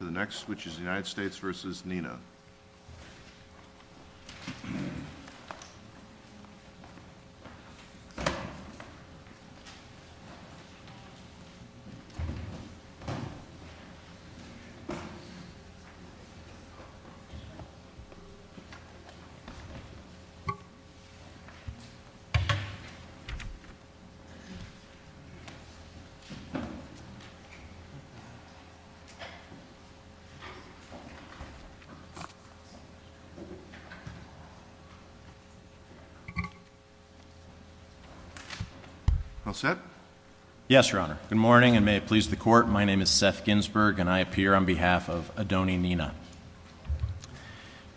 The next switch is the Unite Good morning, and may it please the court. My name is Seth Ginsberg, and I appear on behalf of Adoni Nina.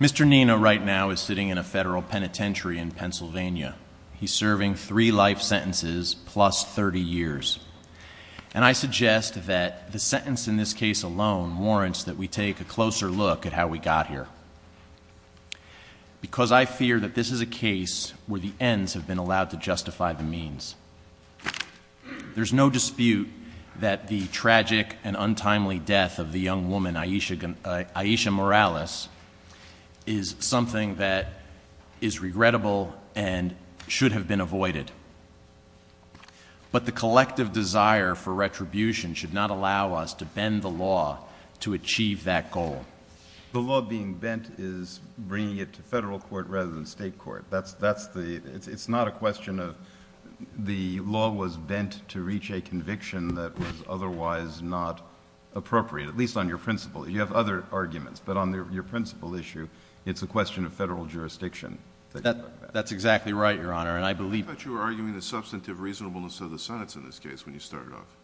Mr. Nina right now is sitting in a federal penitentiary in Pennsylvania. He's serving three life sentences plus 30 years. And I suggest that the sentence in this case alone warrants that we take a closer look at how we got here. Because I fear that this is a case where the ends have been allowed to justify the means. There's no dispute that the tragic and untimely death of the young woman, Aisha Morales, is something that is regrettable and should have been avoided. But the collective desire for retribution should not allow us to bend the law to achieve that goal. The law being bent is bringing it to federal court rather than state court. That's the, it's not a question of the law was bent to reach a conviction that was otherwise not appropriate, at least on your principle. You have other arguments, but on your principle issue, it's a question of federal jurisdiction. That's exactly right, Your Honor, and I believe- I thought you were arguing the substantive reasonableness of the sentence in this case when you started off.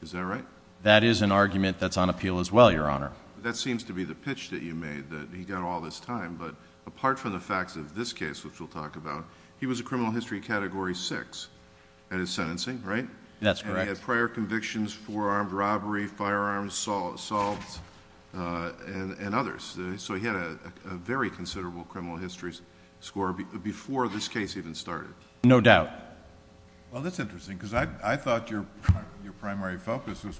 Is that right? That is an argument that's on appeal as well, Your Honor. That seems to be the pitch that you made, that he got all this time. But apart from the facts of this case, which we'll talk about, he was a criminal history category six at his sentencing, right? That's correct. And he had prior convictions for armed robbery, firearms, assault, and others. So he had a very considerable criminal history score before this case even started. No doubt. Well, that's interesting, because I thought your primary focus was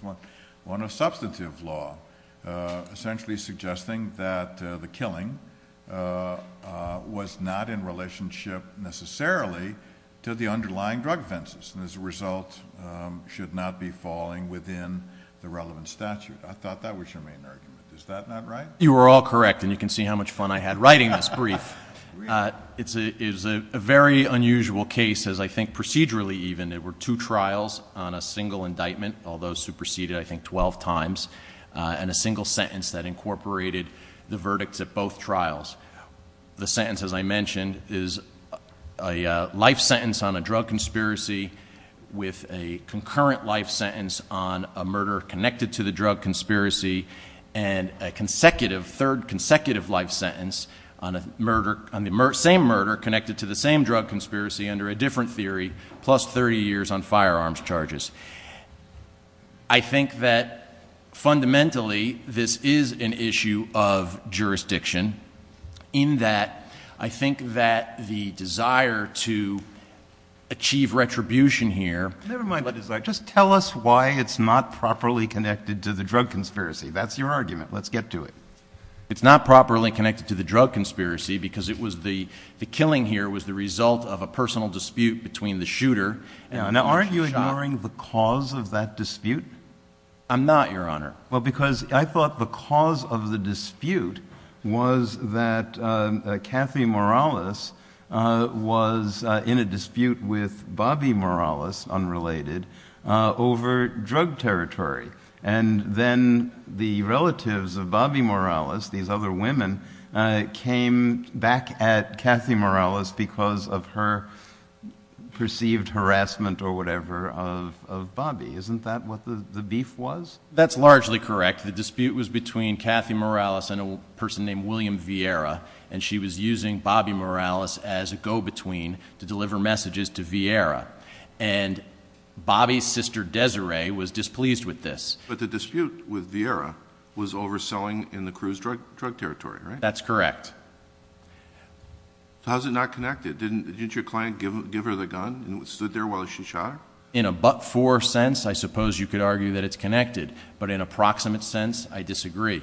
on a substantive law, essentially suggesting that the killing was not in relationship necessarily to the underlying drug offenses. And as a result, should not be falling within the relevant statute. I thought that was your main argument. Is that not right? You are all correct, and you can see how much fun I had writing this brief. It's a very unusual case, as I think procedurally even. There were two trials on a single indictment, although superseded, I think, 12 times. And a single sentence that incorporated the verdicts at both trials. The sentence, as I mentioned, is a life sentence on a drug conspiracy with a concurrent life sentence on a murder connected to the drug conspiracy. And a third consecutive life sentence on the same murder connected to the same drug conspiracy under a different theory, plus 30 years on firearms charges. I think that fundamentally, this is an issue of jurisdiction. In that, I think that the desire to achieve retribution here. Never mind the desire. Just tell us why it's not properly connected to the drug conspiracy. That's your argument. Let's get to it. It's not properly connected to the drug conspiracy, because the killing here was the result of a personal dispute between the shooter. Now, aren't you ignoring the cause of that dispute? I'm not, Your Honor. Well, because I thought the cause of the dispute was that the shooter had a dispute with Bobby Morales, unrelated, over drug territory. And then the relatives of Bobby Morales, these other women, came back at Kathy Morales because of her perceived harassment or whatever of Bobby. Isn't that what the beef was? That's largely correct. The dispute was between Kathy Morales and a person named William Vieira. And she was using Bobby Morales as a go-between to deliver messages to Vieira. And Bobby's sister Desiree was displeased with this. But the dispute with Vieira was overselling in the crew's drug territory, right? That's correct. How's it not connected? Didn't your client give her the gun and stood there while she shot her? In a but-for sense, I suppose you could argue that it's connected. But in a proximate sense, I disagree.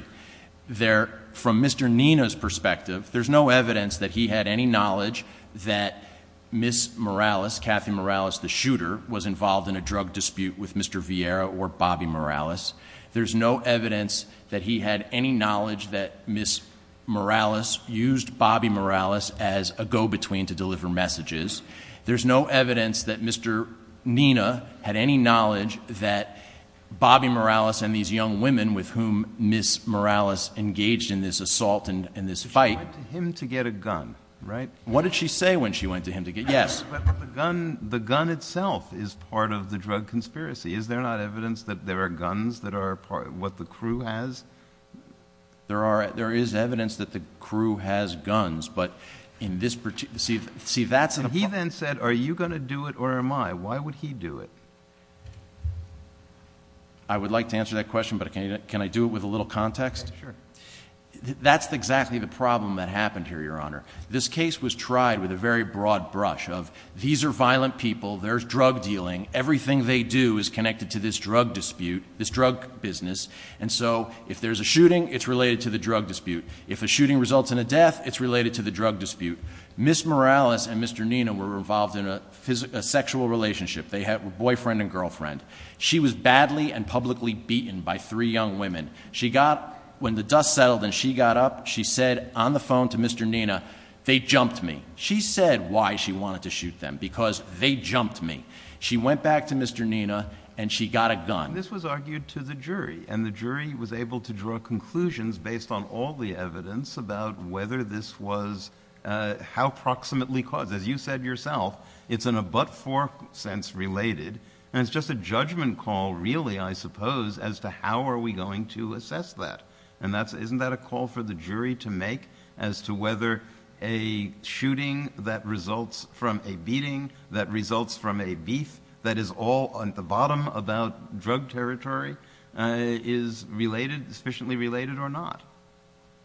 From Mr. Nina's perspective, there's no evidence that he had any knowledge that Ms. Morales, Kathy Morales, the shooter, was involved in a drug dispute with Mr. Vieira or Bobby Morales. There's no evidence that he had any knowledge that Ms. Morales used Bobby Morales as a go-between to deliver messages. There's no evidence that Mr. Nina had any knowledge that Bobby Morales and these young women with whom Ms. Morales engaged in this assault and this fight. She went to him to get a gun, right? What did she say when she went to him to get, yes. But the gun itself is part of the drug conspiracy. Is there not evidence that there are guns that are part of what the crew has? There is evidence that the crew has guns, but in this particular, see that's- He then said, are you going to do it or am I? Why would he do it? I would like to answer that question, but can I do it with a little context? Sure. That's exactly the problem that happened here, your honor. This case was tried with a very broad brush of, these are violent people, there's drug dealing. Everything they do is connected to this drug dispute, this drug business. And so, if there's a shooting, it's related to the drug dispute. If a shooting results in a death, it's related to the drug dispute. Ms. Morales and Mr. Nina were involved in a sexual relationship. They had a boyfriend and girlfriend. She was badly and publicly beaten by three young women. She got, when the dust settled and she got up, she said on the phone to Mr. Nina, they jumped me. She said why she wanted to shoot them, because they jumped me. She went back to Mr. Nina and she got a gun. This was argued to the jury, and the jury was able to draw conclusions based on all the evidence about whether this was how proximately caused. Because as you said yourself, it's in a but-for sense related. And it's just a judgment call really, I suppose, as to how are we going to assess that. And isn't that a call for the jury to make as to whether a shooting that results from a beating, that results from a beef, that is all at the bottom about drug territory, is sufficiently related or not?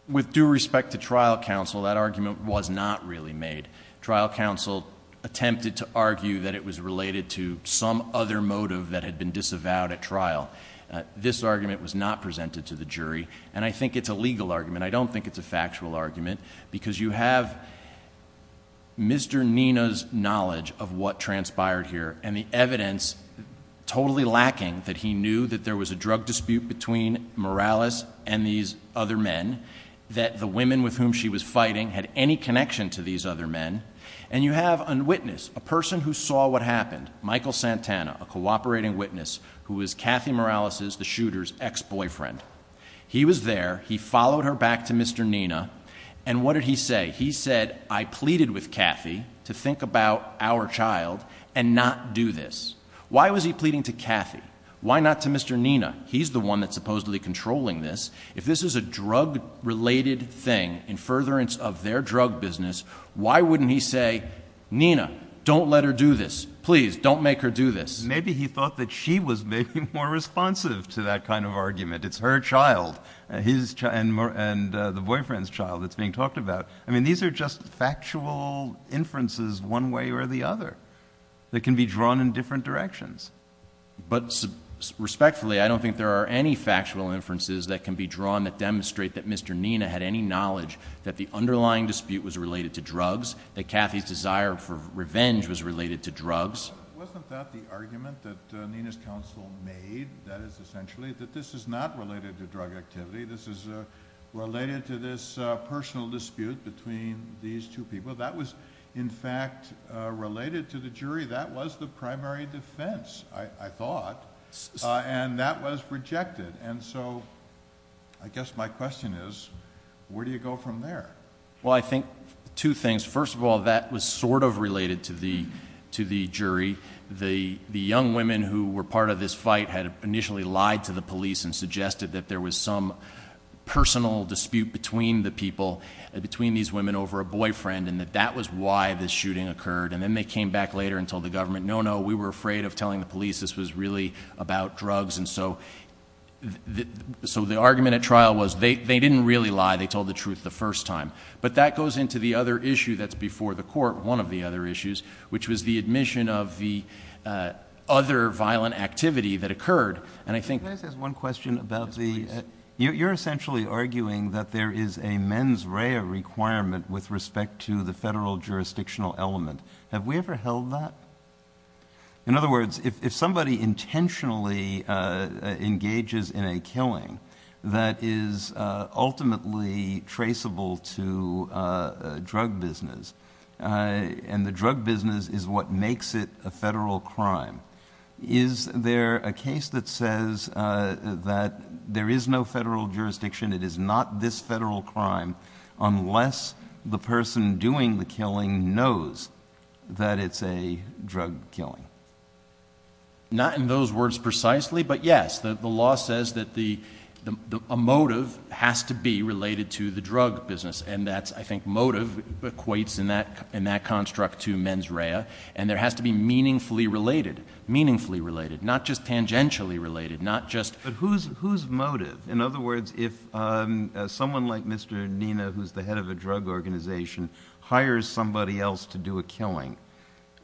With due respect to trial counsel, that argument was not really made. Trial counsel attempted to argue that it was related to some other motive that had been disavowed at trial. This argument was not presented to the jury, and I think it's a legal argument. I don't think it's a factual argument, because you have Mr. Nina's knowledge of what transpired here, and the evidence totally lacking that he knew that there was a drug dispute between Morales and these other men. That the women with whom she was fighting had any connection to these other men. And you have a witness, a person who saw what happened. Michael Santana, a cooperating witness, who was Kathy Morales', the shooter's, ex-boyfriend. He was there, he followed her back to Mr. Nina, and what did he say? He said, I pleaded with Kathy to think about our child and not do this. Why was he pleading to Kathy? Why not to Mr. Nina? He's the one that's supposedly controlling this. If this is a drug related thing, in furtherance of their drug business, why wouldn't he say, Nina, don't let her do this. Please, don't make her do this. Maybe he thought that she was maybe more responsive to that kind of argument. It's her child and the boyfriend's child that's being talked about. I mean, these are just factual inferences one way or the other that can be drawn in different directions. But respectfully, I don't think there are any factual inferences that can be drawn that demonstrate that Mr. Nina had any knowledge that the underlying dispute was related to drugs, that Kathy's desire for revenge was related to drugs. Wasn't that the argument that Nina's counsel made, that is essentially, that this is not related to drug activity. This is related to this personal dispute between these two people. So that was, in fact, related to the jury. That was the primary defense, I thought, and that was rejected. And so, I guess my question is, where do you go from there? Well, I think two things. First of all, that was sort of related to the jury. The young women who were part of this fight had initially lied to the police and that was why this shooting occurred, and then they came back later and told the government, no, no, we were afraid of telling the police this was really about drugs. And so, the argument at trial was they didn't really lie, they told the truth the first time. But that goes into the other issue that's before the court, one of the other issues, which was the admission of the other violent activity that occurred, and I think- You're essentially arguing that there is a mens rea requirement with respect to the federal jurisdictional element. Have we ever held that? In other words, if somebody intentionally engages in a killing that is ultimately traceable to a drug business, and the drug business is what makes it a federal crime, is there a case that says that there is no federal jurisdiction, it is not this federal crime, unless the person doing the killing knows that it's a drug killing? Not in those words precisely, but yes, the law says that a motive has to be related to the drug business. And that's, I think, motive equates in that construct to mens rea. And there has to be meaningfully related, meaningfully related, not just tangentially related, not just- But whose motive? In other words, if someone like Mr. Nina, who's the head of a drug organization, hires somebody else to do a killing,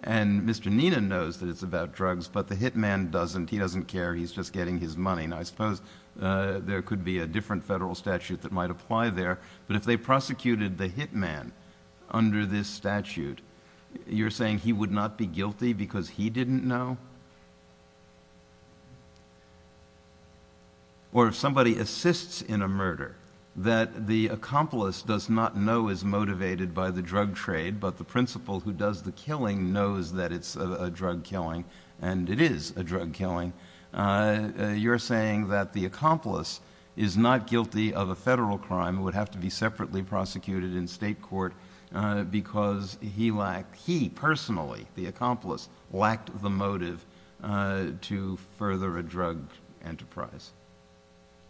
and Mr. Nina knows that it's about drugs, but the hit man doesn't. He doesn't care, he's just getting his money. And I suppose there could be a different federal statute that might apply there. But if they prosecuted the hit man under this statute, you're saying he would not be guilty because he didn't know? Or if somebody assists in a murder that the accomplice does not know is motivated by the drug trade, but the principal who does the killing knows that it's a drug killing, and it is a drug killing. You're saying that the accomplice is not guilty of a federal crime, would have to be separately prosecuted in state court because he lacked, he personally, the accomplice, lacked the motive to further a drug enterprise.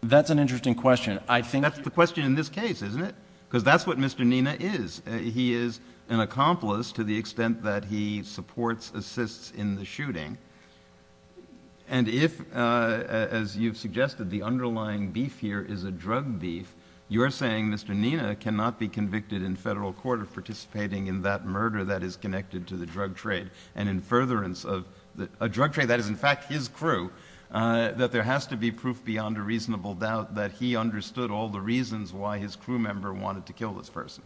That's an interesting question. I think- That's the question in this case, isn't it? because that's what Mr. Nina is. He is an accomplice to the extent that he supports, assists in the shooting. And if, as you've suggested, the underlying beef here is a drug beef, you're saying Mr. Nina cannot be convicted in federal court of participating in that murder that is connected to the drug trade. And in furtherance of a drug trade that is in fact his crew, that there has to be proof beyond a reasonable doubt that he understood all the reasons why his crew member wanted to kill this person.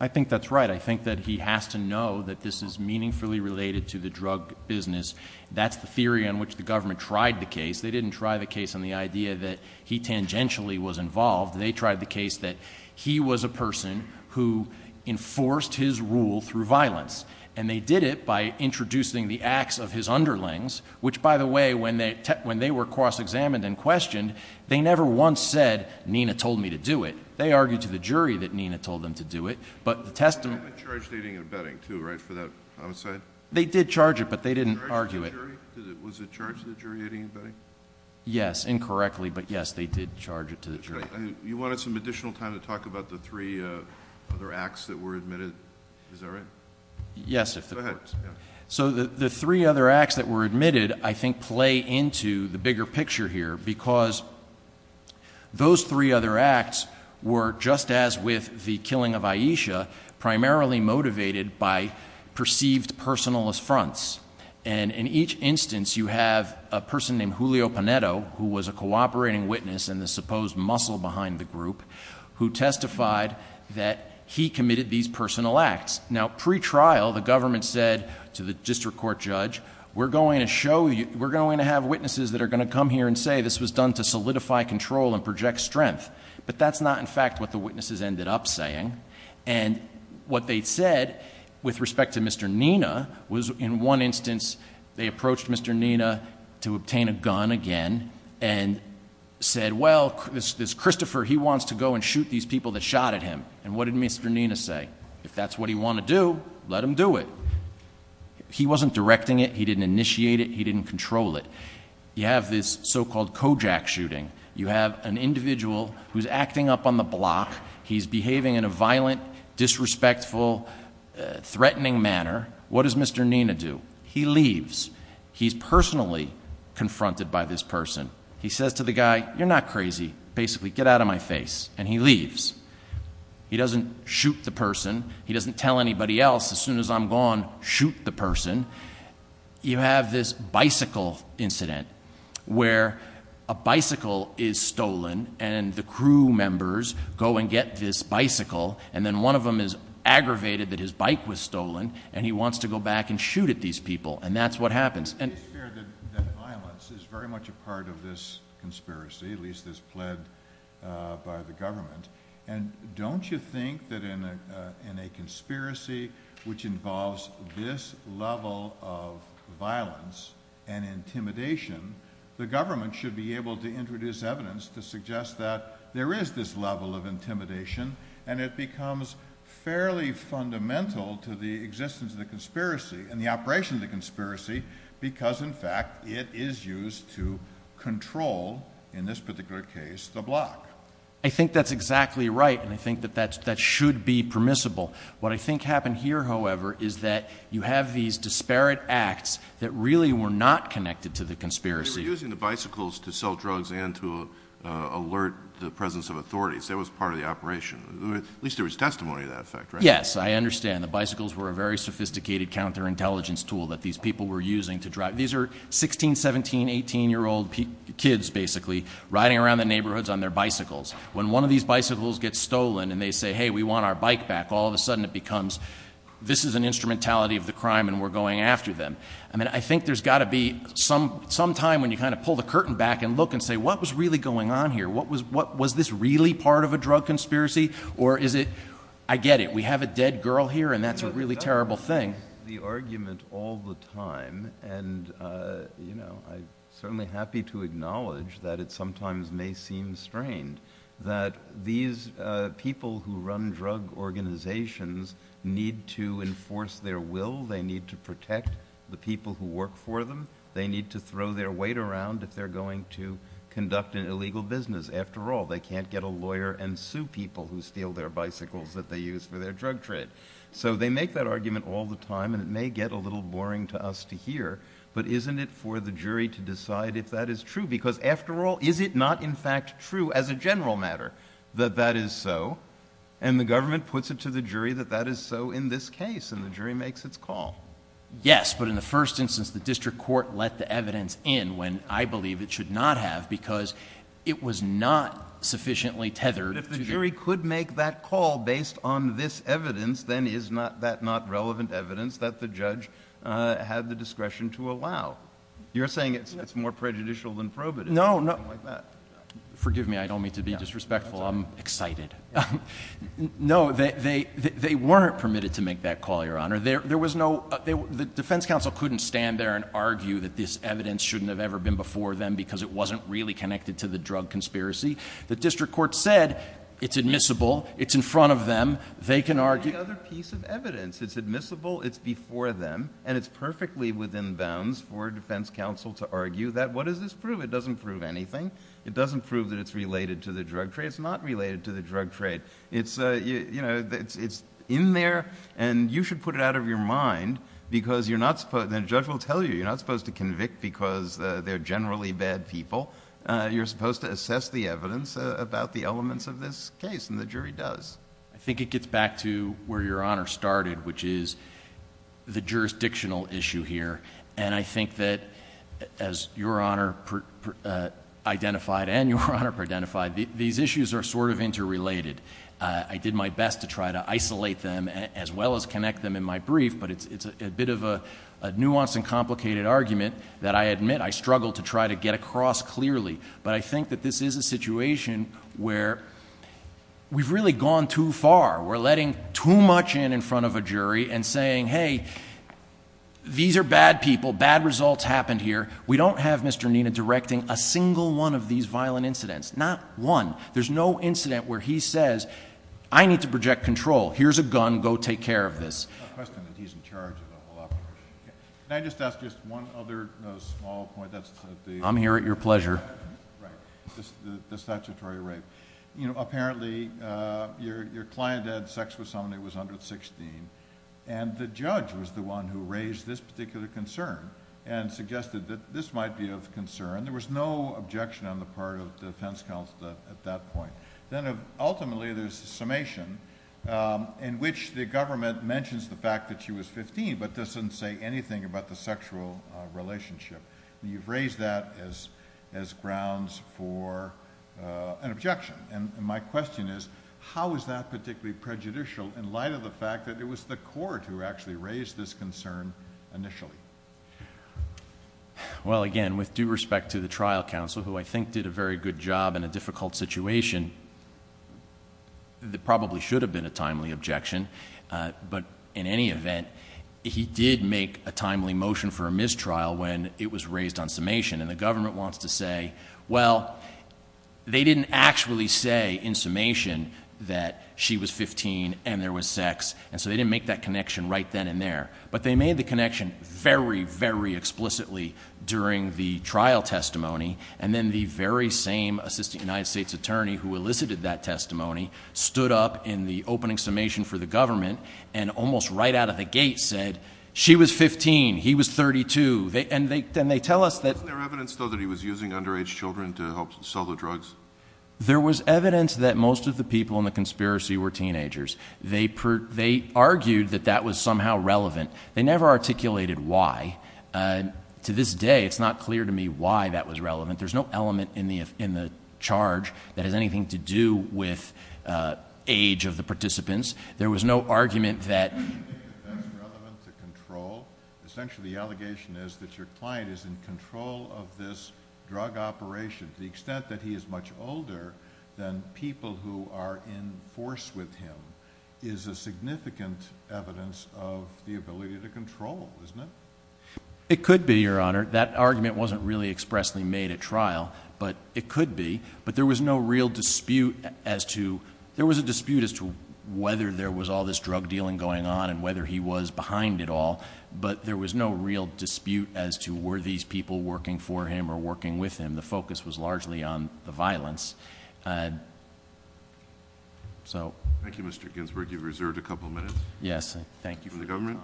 I think that's right. I think that he has to know that this is meaningfully related to the drug business. That's the theory on which the government tried the case. They didn't try the case on the idea that he tangentially was involved. They tried the case that he was a person who enforced his rule through violence. And they did it by introducing the acts of his underlings, which by the way, when they were cross-examined and questioned, they never once said, Nina told me to do it. They argued to the jury that Nina told them to do it, but the testimony- They charged dating and betting too, right, for that homicide? They did charge it, but they didn't argue it. Was it charged to the jury at anybody? Yes, incorrectly, but yes, they did charge it to the jury. You wanted some additional time to talk about the three other acts that were admitted, is that right? Yes, if the court. So the three other acts that were admitted, I think, play into the bigger picture here, because those three other acts were, just as with the killing of Aisha, primarily motivated by perceived personal affronts. And in each instance, you have a person named Julio Panetto, who was a cooperating witness and the supposed muscle behind the group, who testified that he committed these personal acts. Now, pre-trial, the government said to the district court judge, we're going to have witnesses that are going to come here and say this was done to solidify control and project strength, but that's not in fact what the witnesses ended up saying. And what they said, with respect to Mr. Nina, was in one instance, they approached Mr. Nina to obtain a gun again and said, well, this Christopher, he wants to go and shoot these people that shot at him. And what did Mr. Nina say? If that's what he want to do, let him do it. He wasn't directing it, he didn't initiate it, he didn't control it. You have this so-called Kojak shooting. You have an individual who's acting up on the block. He's behaving in a violent, disrespectful, threatening manner. What does Mr. Nina do? He leaves. He's personally confronted by this person. He says to the guy, you're not crazy. Basically, get out of my face. And he leaves. He doesn't shoot the person. He doesn't tell anybody else, as soon as I'm gone, shoot the person. You have this bicycle incident, where a bicycle is stolen, and the crew members go and get this bicycle, and then one of them is aggravated that his bike was stolen, and he wants to go back and shoot at these people. And that's what happens. And- It's clear that violence is very much a part of this conspiracy, at least as pled by the government. And don't you think that in a conspiracy which involves this level of violence and intimidation, the government should be able to introduce evidence to suggest that there is this level of intimidation, and it becomes fairly fundamental to the existence of the conspiracy, and the operation of the conspiracy, because in fact, it is used to control, in this particular case, the block. I think that's exactly right, and I think that that should be permissible. What I think happened here, however, is that you have these disparate acts that really were not connected to the conspiracy. They were using the bicycles to sell drugs and to alert the presence of authorities. That was part of the operation. At least there was testimony to that fact, right? Yes, I understand. The bicycles were a very sophisticated counterintelligence tool that these people were using to drive. These are 16, 17, 18 year old kids, basically, riding around the neighborhoods on their bicycles. When one of these bicycles gets stolen and they say, hey, we want our bike back, all of a sudden it becomes, this is an instrumentality of the crime and we're going after them. I mean, I think there's got to be some time when you kind of pull the curtain back and look and say, what was really going on here? What was this really part of a drug conspiracy? Or is it, I get it, we have a dead girl here and that's a really terrible thing. The argument all the time, and I'm certainly happy to acknowledge that it sometimes may seem strained, that these people who run drug organizations need to enforce their will. They need to protect the people who work for them. They need to throw their weight around if they're going to conduct an illegal business. After all, they can't get a lawyer and sue people who steal their bicycles that they use for their drug trade. So they make that argument all the time, and it may get a little boring to us to hear. But isn't it for the jury to decide if that is true? Because after all, is it not in fact true as a general matter that that is so? And the government puts it to the jury that that is so in this case, and the jury makes its call. Yes, but in the first instance, the district court let the evidence in when I believe it should not have because it was not sufficiently tethered. But if the jury could make that call based on this evidence, then is that not relevant evidence that the judge had the discretion to allow? You're saying it's more prejudicial than probative, or something like that? Forgive me, I don't mean to be disrespectful. I'm excited. No, they weren't permitted to make that call, Your Honor. The defense counsel couldn't stand there and argue that this evidence shouldn't have ever been before them because it wasn't really connected to the drug conspiracy. The district court said, it's admissible, it's in front of them, they can argue- Any other piece of evidence. It's admissible, it's before them, and it's perfectly within bounds for defense counsel to argue that. What does this prove? It doesn't prove anything. It doesn't prove that it's related to the drug trade. It's not related to the drug trade. It's in there, and you should put it out of your mind. Because you're not supposed, and the judge will tell you, you're not supposed to convict because they're generally bad people. You're supposed to assess the evidence about the elements of this case, and the jury does. I think it gets back to where Your Honor started, which is the jurisdictional issue here. And I think that as Your Honor identified, and Your Honor identified, these issues are sort of interrelated. I did my best to try to isolate them, as well as connect them in my brief. But it's a bit of a nuanced and complicated argument that I admit I struggled to try to get across clearly. But I think that this is a situation where we've really gone too far. We're letting too much in in front of a jury and saying, hey, these are bad people, bad results happened here. We don't have Mr. Nina directing a single one of these violent incidents, not one. There's no incident where he says, I need to project control. Here's a gun, go take care of this. A question that he's in charge of the whole operation. Can I just ask just one other small point that's- I'm here at your pleasure. Right, the statutory rape. Apparently, your client had sex with someone that was under 16. And the judge was the one who raised this particular concern and suggested that this might be of concern. There was no objection on the part of the defense counsel at that point. Then ultimately, there's a summation in which the government mentions the fact that she was 15, but doesn't say anything about the sexual relationship. You've raised that as grounds for an objection. And my question is, how is that particularly prejudicial in light of the fact that it was the court who actually raised this concern initially? Well, again, with due respect to the trial counsel, who I think did a very good job in a difficult situation. There probably should have been a timely objection. But in any event, he did make a timely motion for a mistrial when it was raised on summation. And the government wants to say, well, they didn't actually say in summation that she was 15 and there was sex. And so they didn't make that connection right then and there. But they made the connection very, very explicitly during the trial testimony. And then the very same assistant United States attorney who elicited that testimony stood up in the opening summation for the government and almost right out of the gate said, she was 15, he was 32. And they tell us that- Wasn't there evidence, though, that he was using underage children to help sell the drugs? There was evidence that most of the people in the conspiracy were teenagers. They argued that that was somehow relevant. They never articulated why. To this day, it's not clear to me why that was relevant. There's no element in the charge that has anything to do with age of the participants. There was no argument that- Do you think that that's relevant to control? Essentially, the allegation is that your client is in control of this drug operation. To the extent that he is much older than people who are in force with him is a significant evidence of the ability to control, isn't it? It could be, your honor. That argument wasn't really expressly made at trial, but it could be. But there was no real dispute as to, there was a dispute as to whether there was all this drug dealing going on and whether he was behind it all. But there was no real dispute as to were these people working for him or working with him. And the focus was largely on the violence. So- Thank you, Mr. Ginsburg. You've reserved a couple of minutes. Thank you for your time. From the government?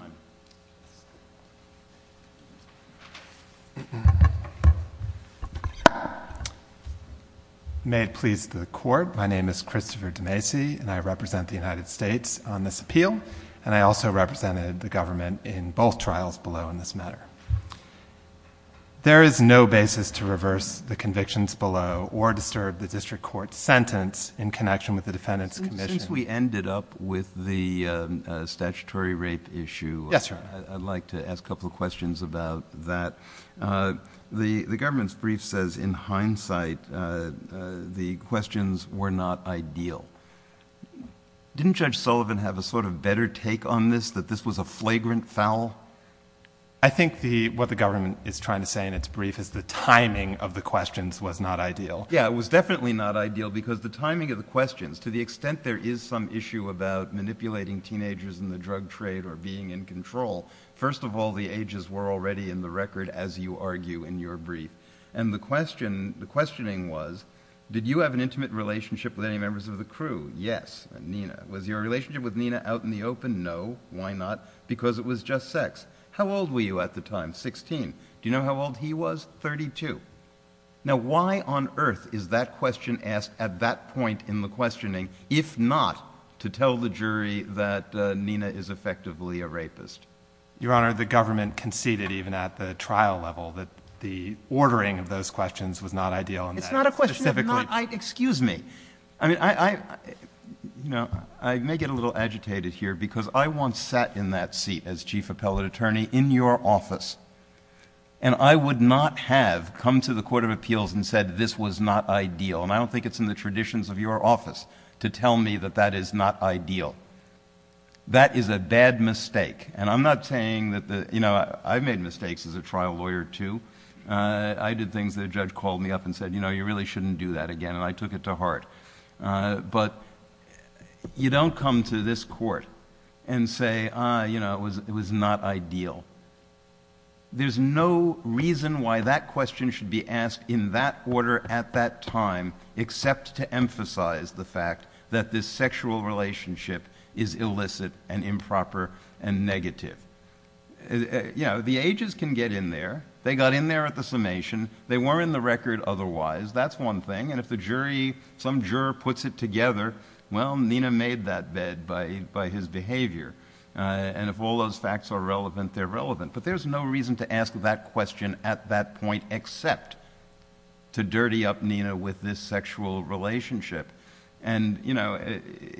May it please the court, my name is Christopher DeMacy and I represent the United States on this appeal. And I also represented the government in both trials below in this matter. There is no basis to reverse the convictions below or disturb the district court's sentence in connection with the defendant's commission. Since we ended up with the statutory rape issue, I'd like to ask a couple of questions about that. The government's brief says in hindsight the questions were not ideal. Didn't Judge Sullivan have a sort of better take on this, that this was a flagrant foul? I think what the government is trying to say in its brief is the timing of the questions was not ideal. Yeah, it was definitely not ideal because the timing of the questions, to the extent there is some issue about manipulating teenagers in the drug trade or being in control, first of all, the ages were already in the record as you argue in your brief. And the questioning was, did you have an intimate relationship with any members of the crew? Yes. And Nina? Was your relationship with Nina out in the open? No. Why not? Because it was just sex. How old were you at the time? Sixteen. Do you know how old he was? Thirty-two. Now, why on earth is that question asked at that point in the questioning, if not to tell the jury that Nina is effectively a rapist? Your Honor, the government conceded even at the trial level that the ordering of those questions was not ideal. It's not a question of not, excuse me. I mean, I may get a little agitated here because I once sat in that seat as chief appellate attorney in your office. And I would not have come to the Court of Appeals and said this was not ideal. And I don't think it's in the traditions of your office to tell me that that is not ideal. That is a bad mistake. And I'm not saying that the, you know, I've made mistakes as a trial lawyer too. I did things that a judge called me up and said, you know, you really shouldn't do that again. And I took it to heart. But you don't come to this court and say, you know, it was not ideal. There's no reason why that question should be asked in that order at that time, except to emphasize the fact that this sexual relationship is illicit and improper and negative. You know, the ages can get in there. They got in there at the summation. They were in the record otherwise. That's one thing. And if the jury, some juror puts it together, well, Nina made that bed by his behavior. And if all those facts are relevant, they're relevant. But there's no reason to ask that question at that point except to dirty up Nina with this sexual relationship. And, you know,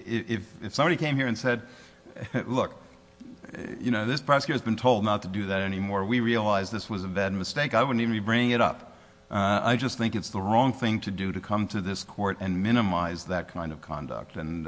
if somebody came here and said, look, you know, this prosecutor has been told not to do that anymore. We realize this was a bad mistake. I wouldn't even be bringing it up. I just think it's the wrong thing to do to come to this court and minimize that kind of conduct. And,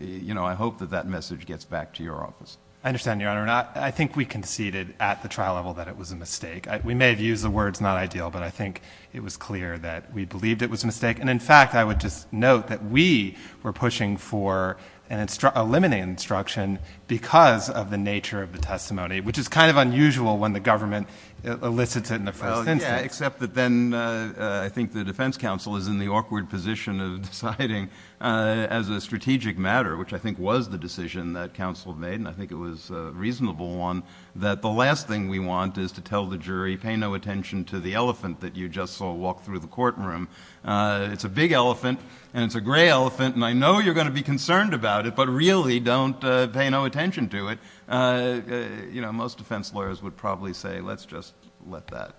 you know, I hope that that message gets back to your office. I understand, Your Honor, and I think we conceded at the trial level that it was a mistake. We may have used the words not ideal, but I think it was clear that we believed it was a mistake. And, in fact, I would just note that we were pushing for a limiting instruction because of the nature of the testimony, which is kind of unusual when the government elicits it in the first instance. Well, yeah, except that then I think the defense counsel is in the awkward position of deciding as a strategic matter, which I think was the decision that counsel made, and I think it was a reasonable one, that the last thing we want is to tell the jury, pay no attention to the elephant that you just saw walk through the courtroom. It's a big elephant, and it's a gray elephant, and I know you're going to be concerned about it, but really don't pay no attention to it. You know, most defense lawyers would probably say, let's just let that.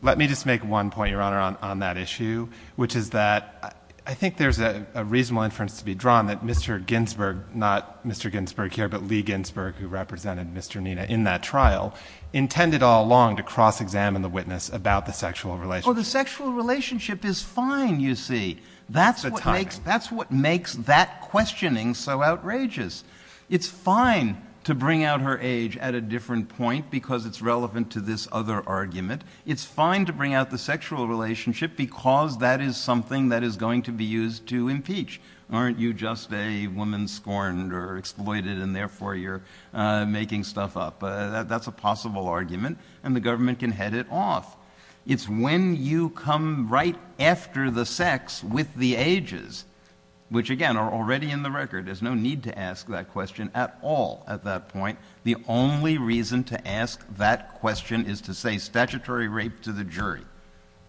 Let me just make one point, Your Honor, on that issue, which is that I think there's a reasonable inference to be drawn that Mr. Ginsburg, not Mr. Ginsburg here, but Lee Ginsburg, who represented Mr. Nina in that trial, intended all along to cross-examine the witness about the sexual relationship. Oh, the sexual relationship is fine, you see. That's what makes that questioning so outrageous. It's fine to bring out her age at a different point because it's relevant to this other argument. It's fine to bring out the sexual relationship because that is something that is going to be used to impeach. Aren't you just a woman scorned or exploited, and therefore you're making stuff up? That's a possible argument, and the government can head it off. It's when you come right after the sex with the ages, which, again, are already in the record. There's no need to ask that question at all at that point. The only reason to ask that question is to say statutory rape to the jury.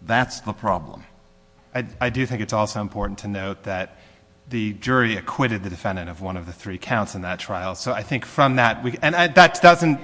That's the problem. I do think it's also important to note that the jury acquitted the defendant of one of the three counts in that trial. So I think from that, and that doesn't—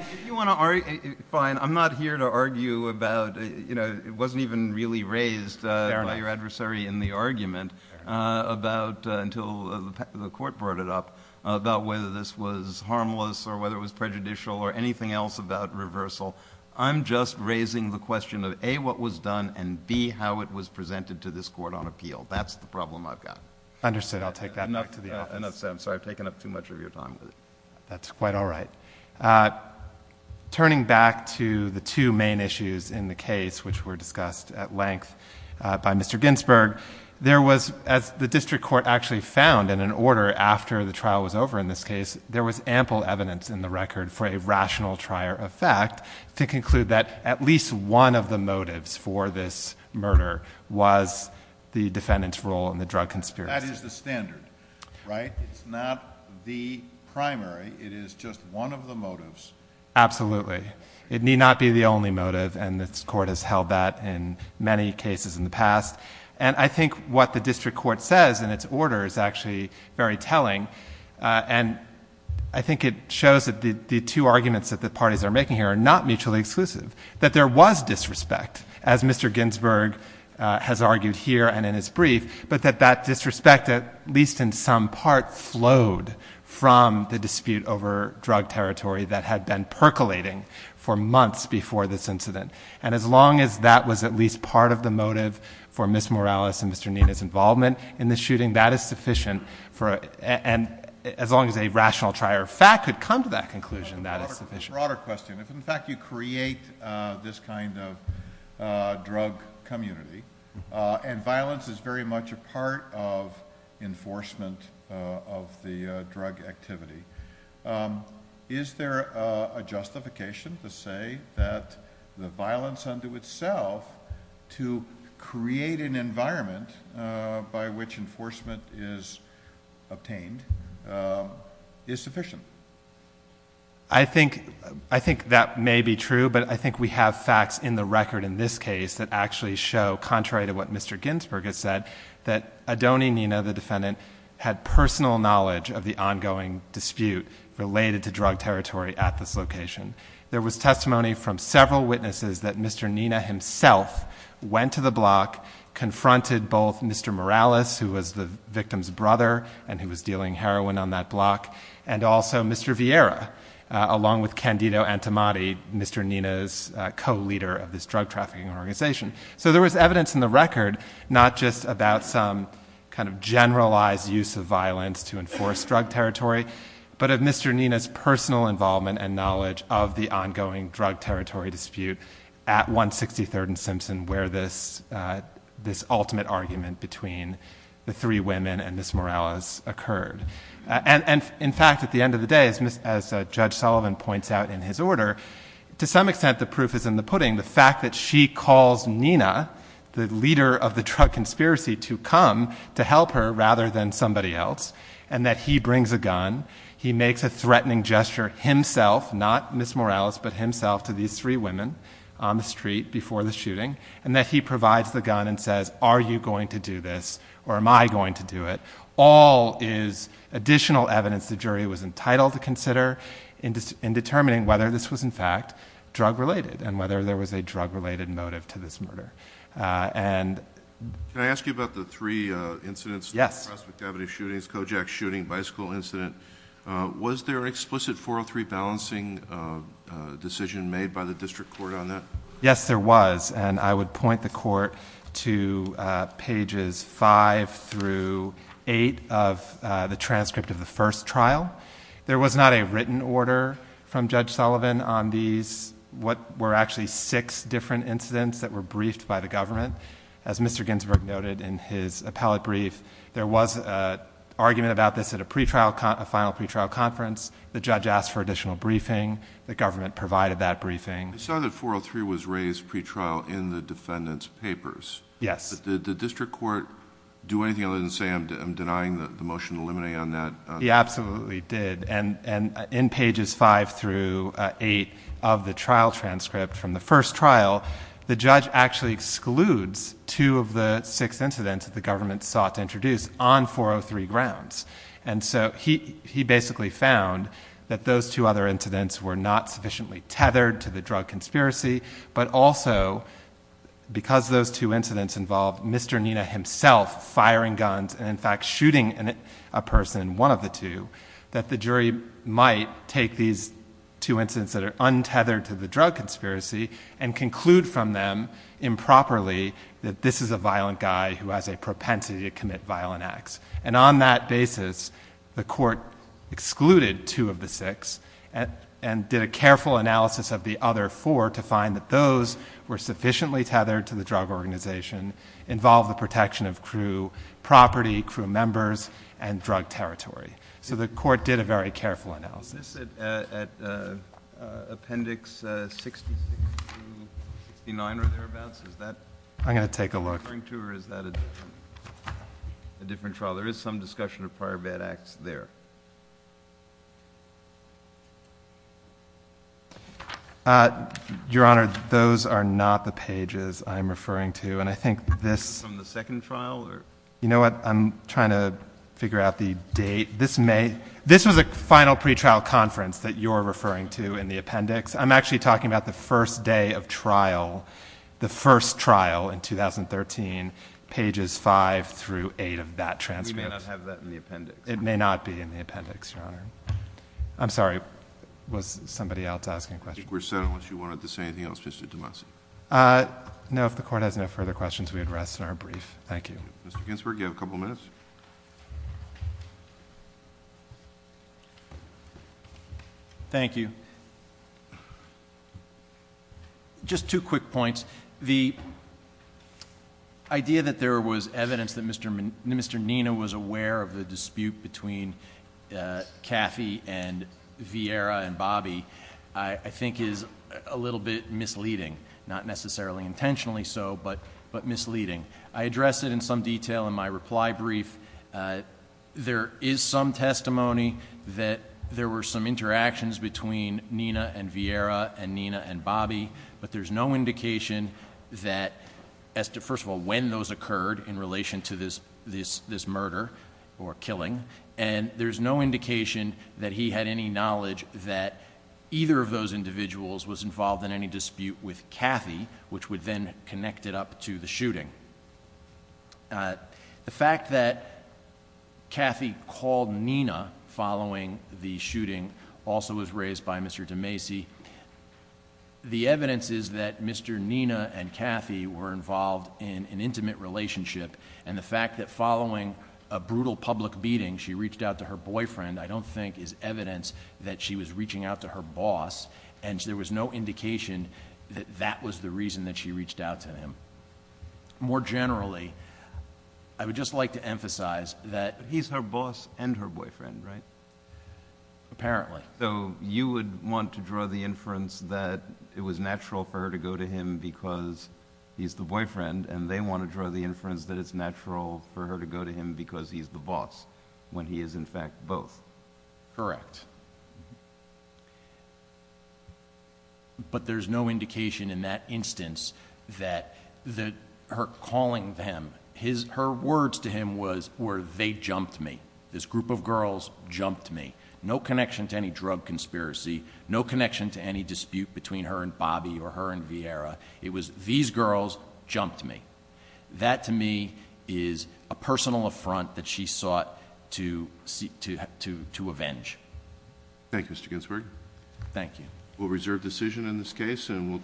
Fine. I'm not here to argue about—it wasn't even really raised by your adversary in the argument until the court brought it up, about whether this was harmless or whether it was prejudicial or anything else about reversal. I'm just raising the question of, A, what was done, and, B, how it was presented to this court on appeal. That's the problem I've got. Understood. I'll take that back to the office. Enough said. I'm sorry. I've taken up too much of your time. That's quite all right. Turning back to the two main issues in the case, which were discussed at length by Mr. Ginsburg, there was, as the district court actually found in an order after the trial was over in this case, there was ample evidence in the record for a rational trier of fact to conclude that at least one of the motives for this murder was the defendant's role in the drug conspiracy. That is the standard, right? It's not the primary. It is just one of the motives. Absolutely. It need not be the only motive, and this court has held that in many cases in the past. And I think what the district court says in its order is actually very telling, and I think it shows that the two arguments that the parties are making here are not mutually exclusive, that there was disrespect, as Mr. Ginsburg has argued here and in his brief, but that that disrespect, at least in some part, flowed from the dispute over drug territory that had been percolating for months before this incident. And as long as that was at least part of the motive for Ms. Morales and Mr. Nina's involvement in the shooting, that is sufficient, and as long as a rational trier of fact could come to that conclusion, that is sufficient. A broader question. In fact, you create this kind of drug community, and violence is very much a part of enforcement of the drug activity. Is there a justification to say that the violence unto itself to create an environment by which enforcement is obtained is sufficient? I think that may be true, but I think we have facts in the record in this case that actually show, contrary to what Mr. Ginsburg has said, that Adoni Nina, the defendant, had personal knowledge of the ongoing dispute related to drug territory at this location. There was testimony from several witnesses that Mr. Nina himself went to the block, confronted both Mr. Morales, who was the victim's brother and who was dealing heroin on that block, and also Mr. Vieira, along with Candido Antomati, Mr. Nina's co-leader of this drug trafficking organization. So there was evidence in the record, not just about some kind of generalized use of violence to enforce drug territory, but of Mr. Nina's personal involvement and knowledge of the ongoing drug territory dispute at 163rd and Simpson, where this ultimate argument between the three women and Ms. Morales occurred. And, in fact, at the end of the day, as Judge Sullivan points out in his order, to some extent the proof is in the pudding. The fact that she calls Nina, the leader of the drug conspiracy, to come to help her rather than somebody else, and that he brings a gun, he makes a threatening gesture himself, not Ms. Morales, but himself to these three women on the street before the shooting, and that he provides the gun and says, are you going to do this or am I going to do it? All is additional evidence the jury was entitled to consider in determining whether this was, in fact, drug-related and whether there was a drug-related motive to this murder. Can I ask you about the three incidents? Yes. Prospect Avenue shootings, Kojak shooting, bicycle incident. Was there an explicit 403 balancing decision made by the district court on that? Yes, there was, and I would point the court to pages 5 through 8 of the transcript of the first trial. There was not a written order from Judge Sullivan on these, what were actually six different incidents that were briefed by the government. As Mr. Ginsburg noted in his appellate brief, there was an argument about this at a final pretrial conference. The judge asked for additional briefing. The government provided that briefing. I saw that 403 was raised pretrial in the defendant's papers. Yes. Did the district court do anything other than say I'm denying the motion to eliminate on that? He absolutely did, and in pages 5 through 8 of the trial transcript from the first trial, the judge actually excludes two of the six incidents that the government sought to introduce on 403 grounds. He basically found that those two other incidents were not sufficiently tethered to the drug conspiracy, but also because those two incidents involved Mr. Nina himself firing guns and in fact shooting a person, one of the two, that the jury might take these two incidents that are untethered to the drug conspiracy and conclude from them improperly that this is a violent guy who has a propensity to commit violent acts. And on that basis, the court excluded two of the six and did a careful analysis of the other four to find that those were sufficiently tethered to the drug organization, involved the protection of crew property, crew members, and drug territory. So the court did a very careful analysis. Is this at appendix 66 to 69 or thereabouts? I'm going to take a look. Is that what you're referring to or is that a different trial? There is some discussion of prior bad acts there. Your Honor, those are not the pages I'm referring to, and I think this— Is this from the second trial? You know what? I'm trying to figure out the date. This was a final pretrial conference that you're referring to in the appendix. I'm actually talking about the first day of trial, the first trial in 2013, pages 5 through 8 of that transcript. We may not have that in the appendix. It may not be in the appendix, Your Honor. I'm sorry. Was somebody else asking a question? I think we're settled. Did you want to say anything else, Mr. DeMasi? No. If the court has no further questions, we would rest in our brief. Thank you. Mr. Ginsberg, you have a couple minutes. Thank you. Just two quick points. The idea that there was evidence that Mr. Niena was aware of the dispute between Caffey and Vieira and Bobby I think is a little bit misleading, not necessarily intentionally so, but misleading. I addressed it in some detail in my reply brief. There is some testimony that there were some interactions between Niena and Vieira and Niena and Bobby, but there's no indication that, first of all, when those occurred in relation to this murder or killing. There's no indication that he had any knowledge that either of those individuals was involved in any dispute with Caffey, which would then connect it up to the shooting. The fact that Caffey called Niena following the shooting also was raised by Mr. DeMasi. The evidence is that Mr. Niena and Caffey were involved in an intimate relationship and the fact that following a brutal public beating she reached out to her boyfriend I don't think is evidence that she was reaching out to her boss and there was no indication that that was the reason that she reached out to him. More generally, I would just like to emphasize that. He's her boss and her boyfriend, right? Apparently. So you would want to draw the inference that it was natural for her to go to him because he's the boyfriend and they want to draw the inference that it's natural for her to go to him because he's the boss when he is, in fact, both. Correct. But there's no indication in that instance that her calling them, her words to him were they jumped me. This group of girls jumped me. No connection to any drug conspiracy. No connection to any dispute between her and Bobby or her and Vieira. It was these girls jumped me. That, to me, is a personal affront that she sought to avenge. Thank you, Mr. Ginsberg. Thank you. We'll reserve decision in this case and we'll turn it back to you.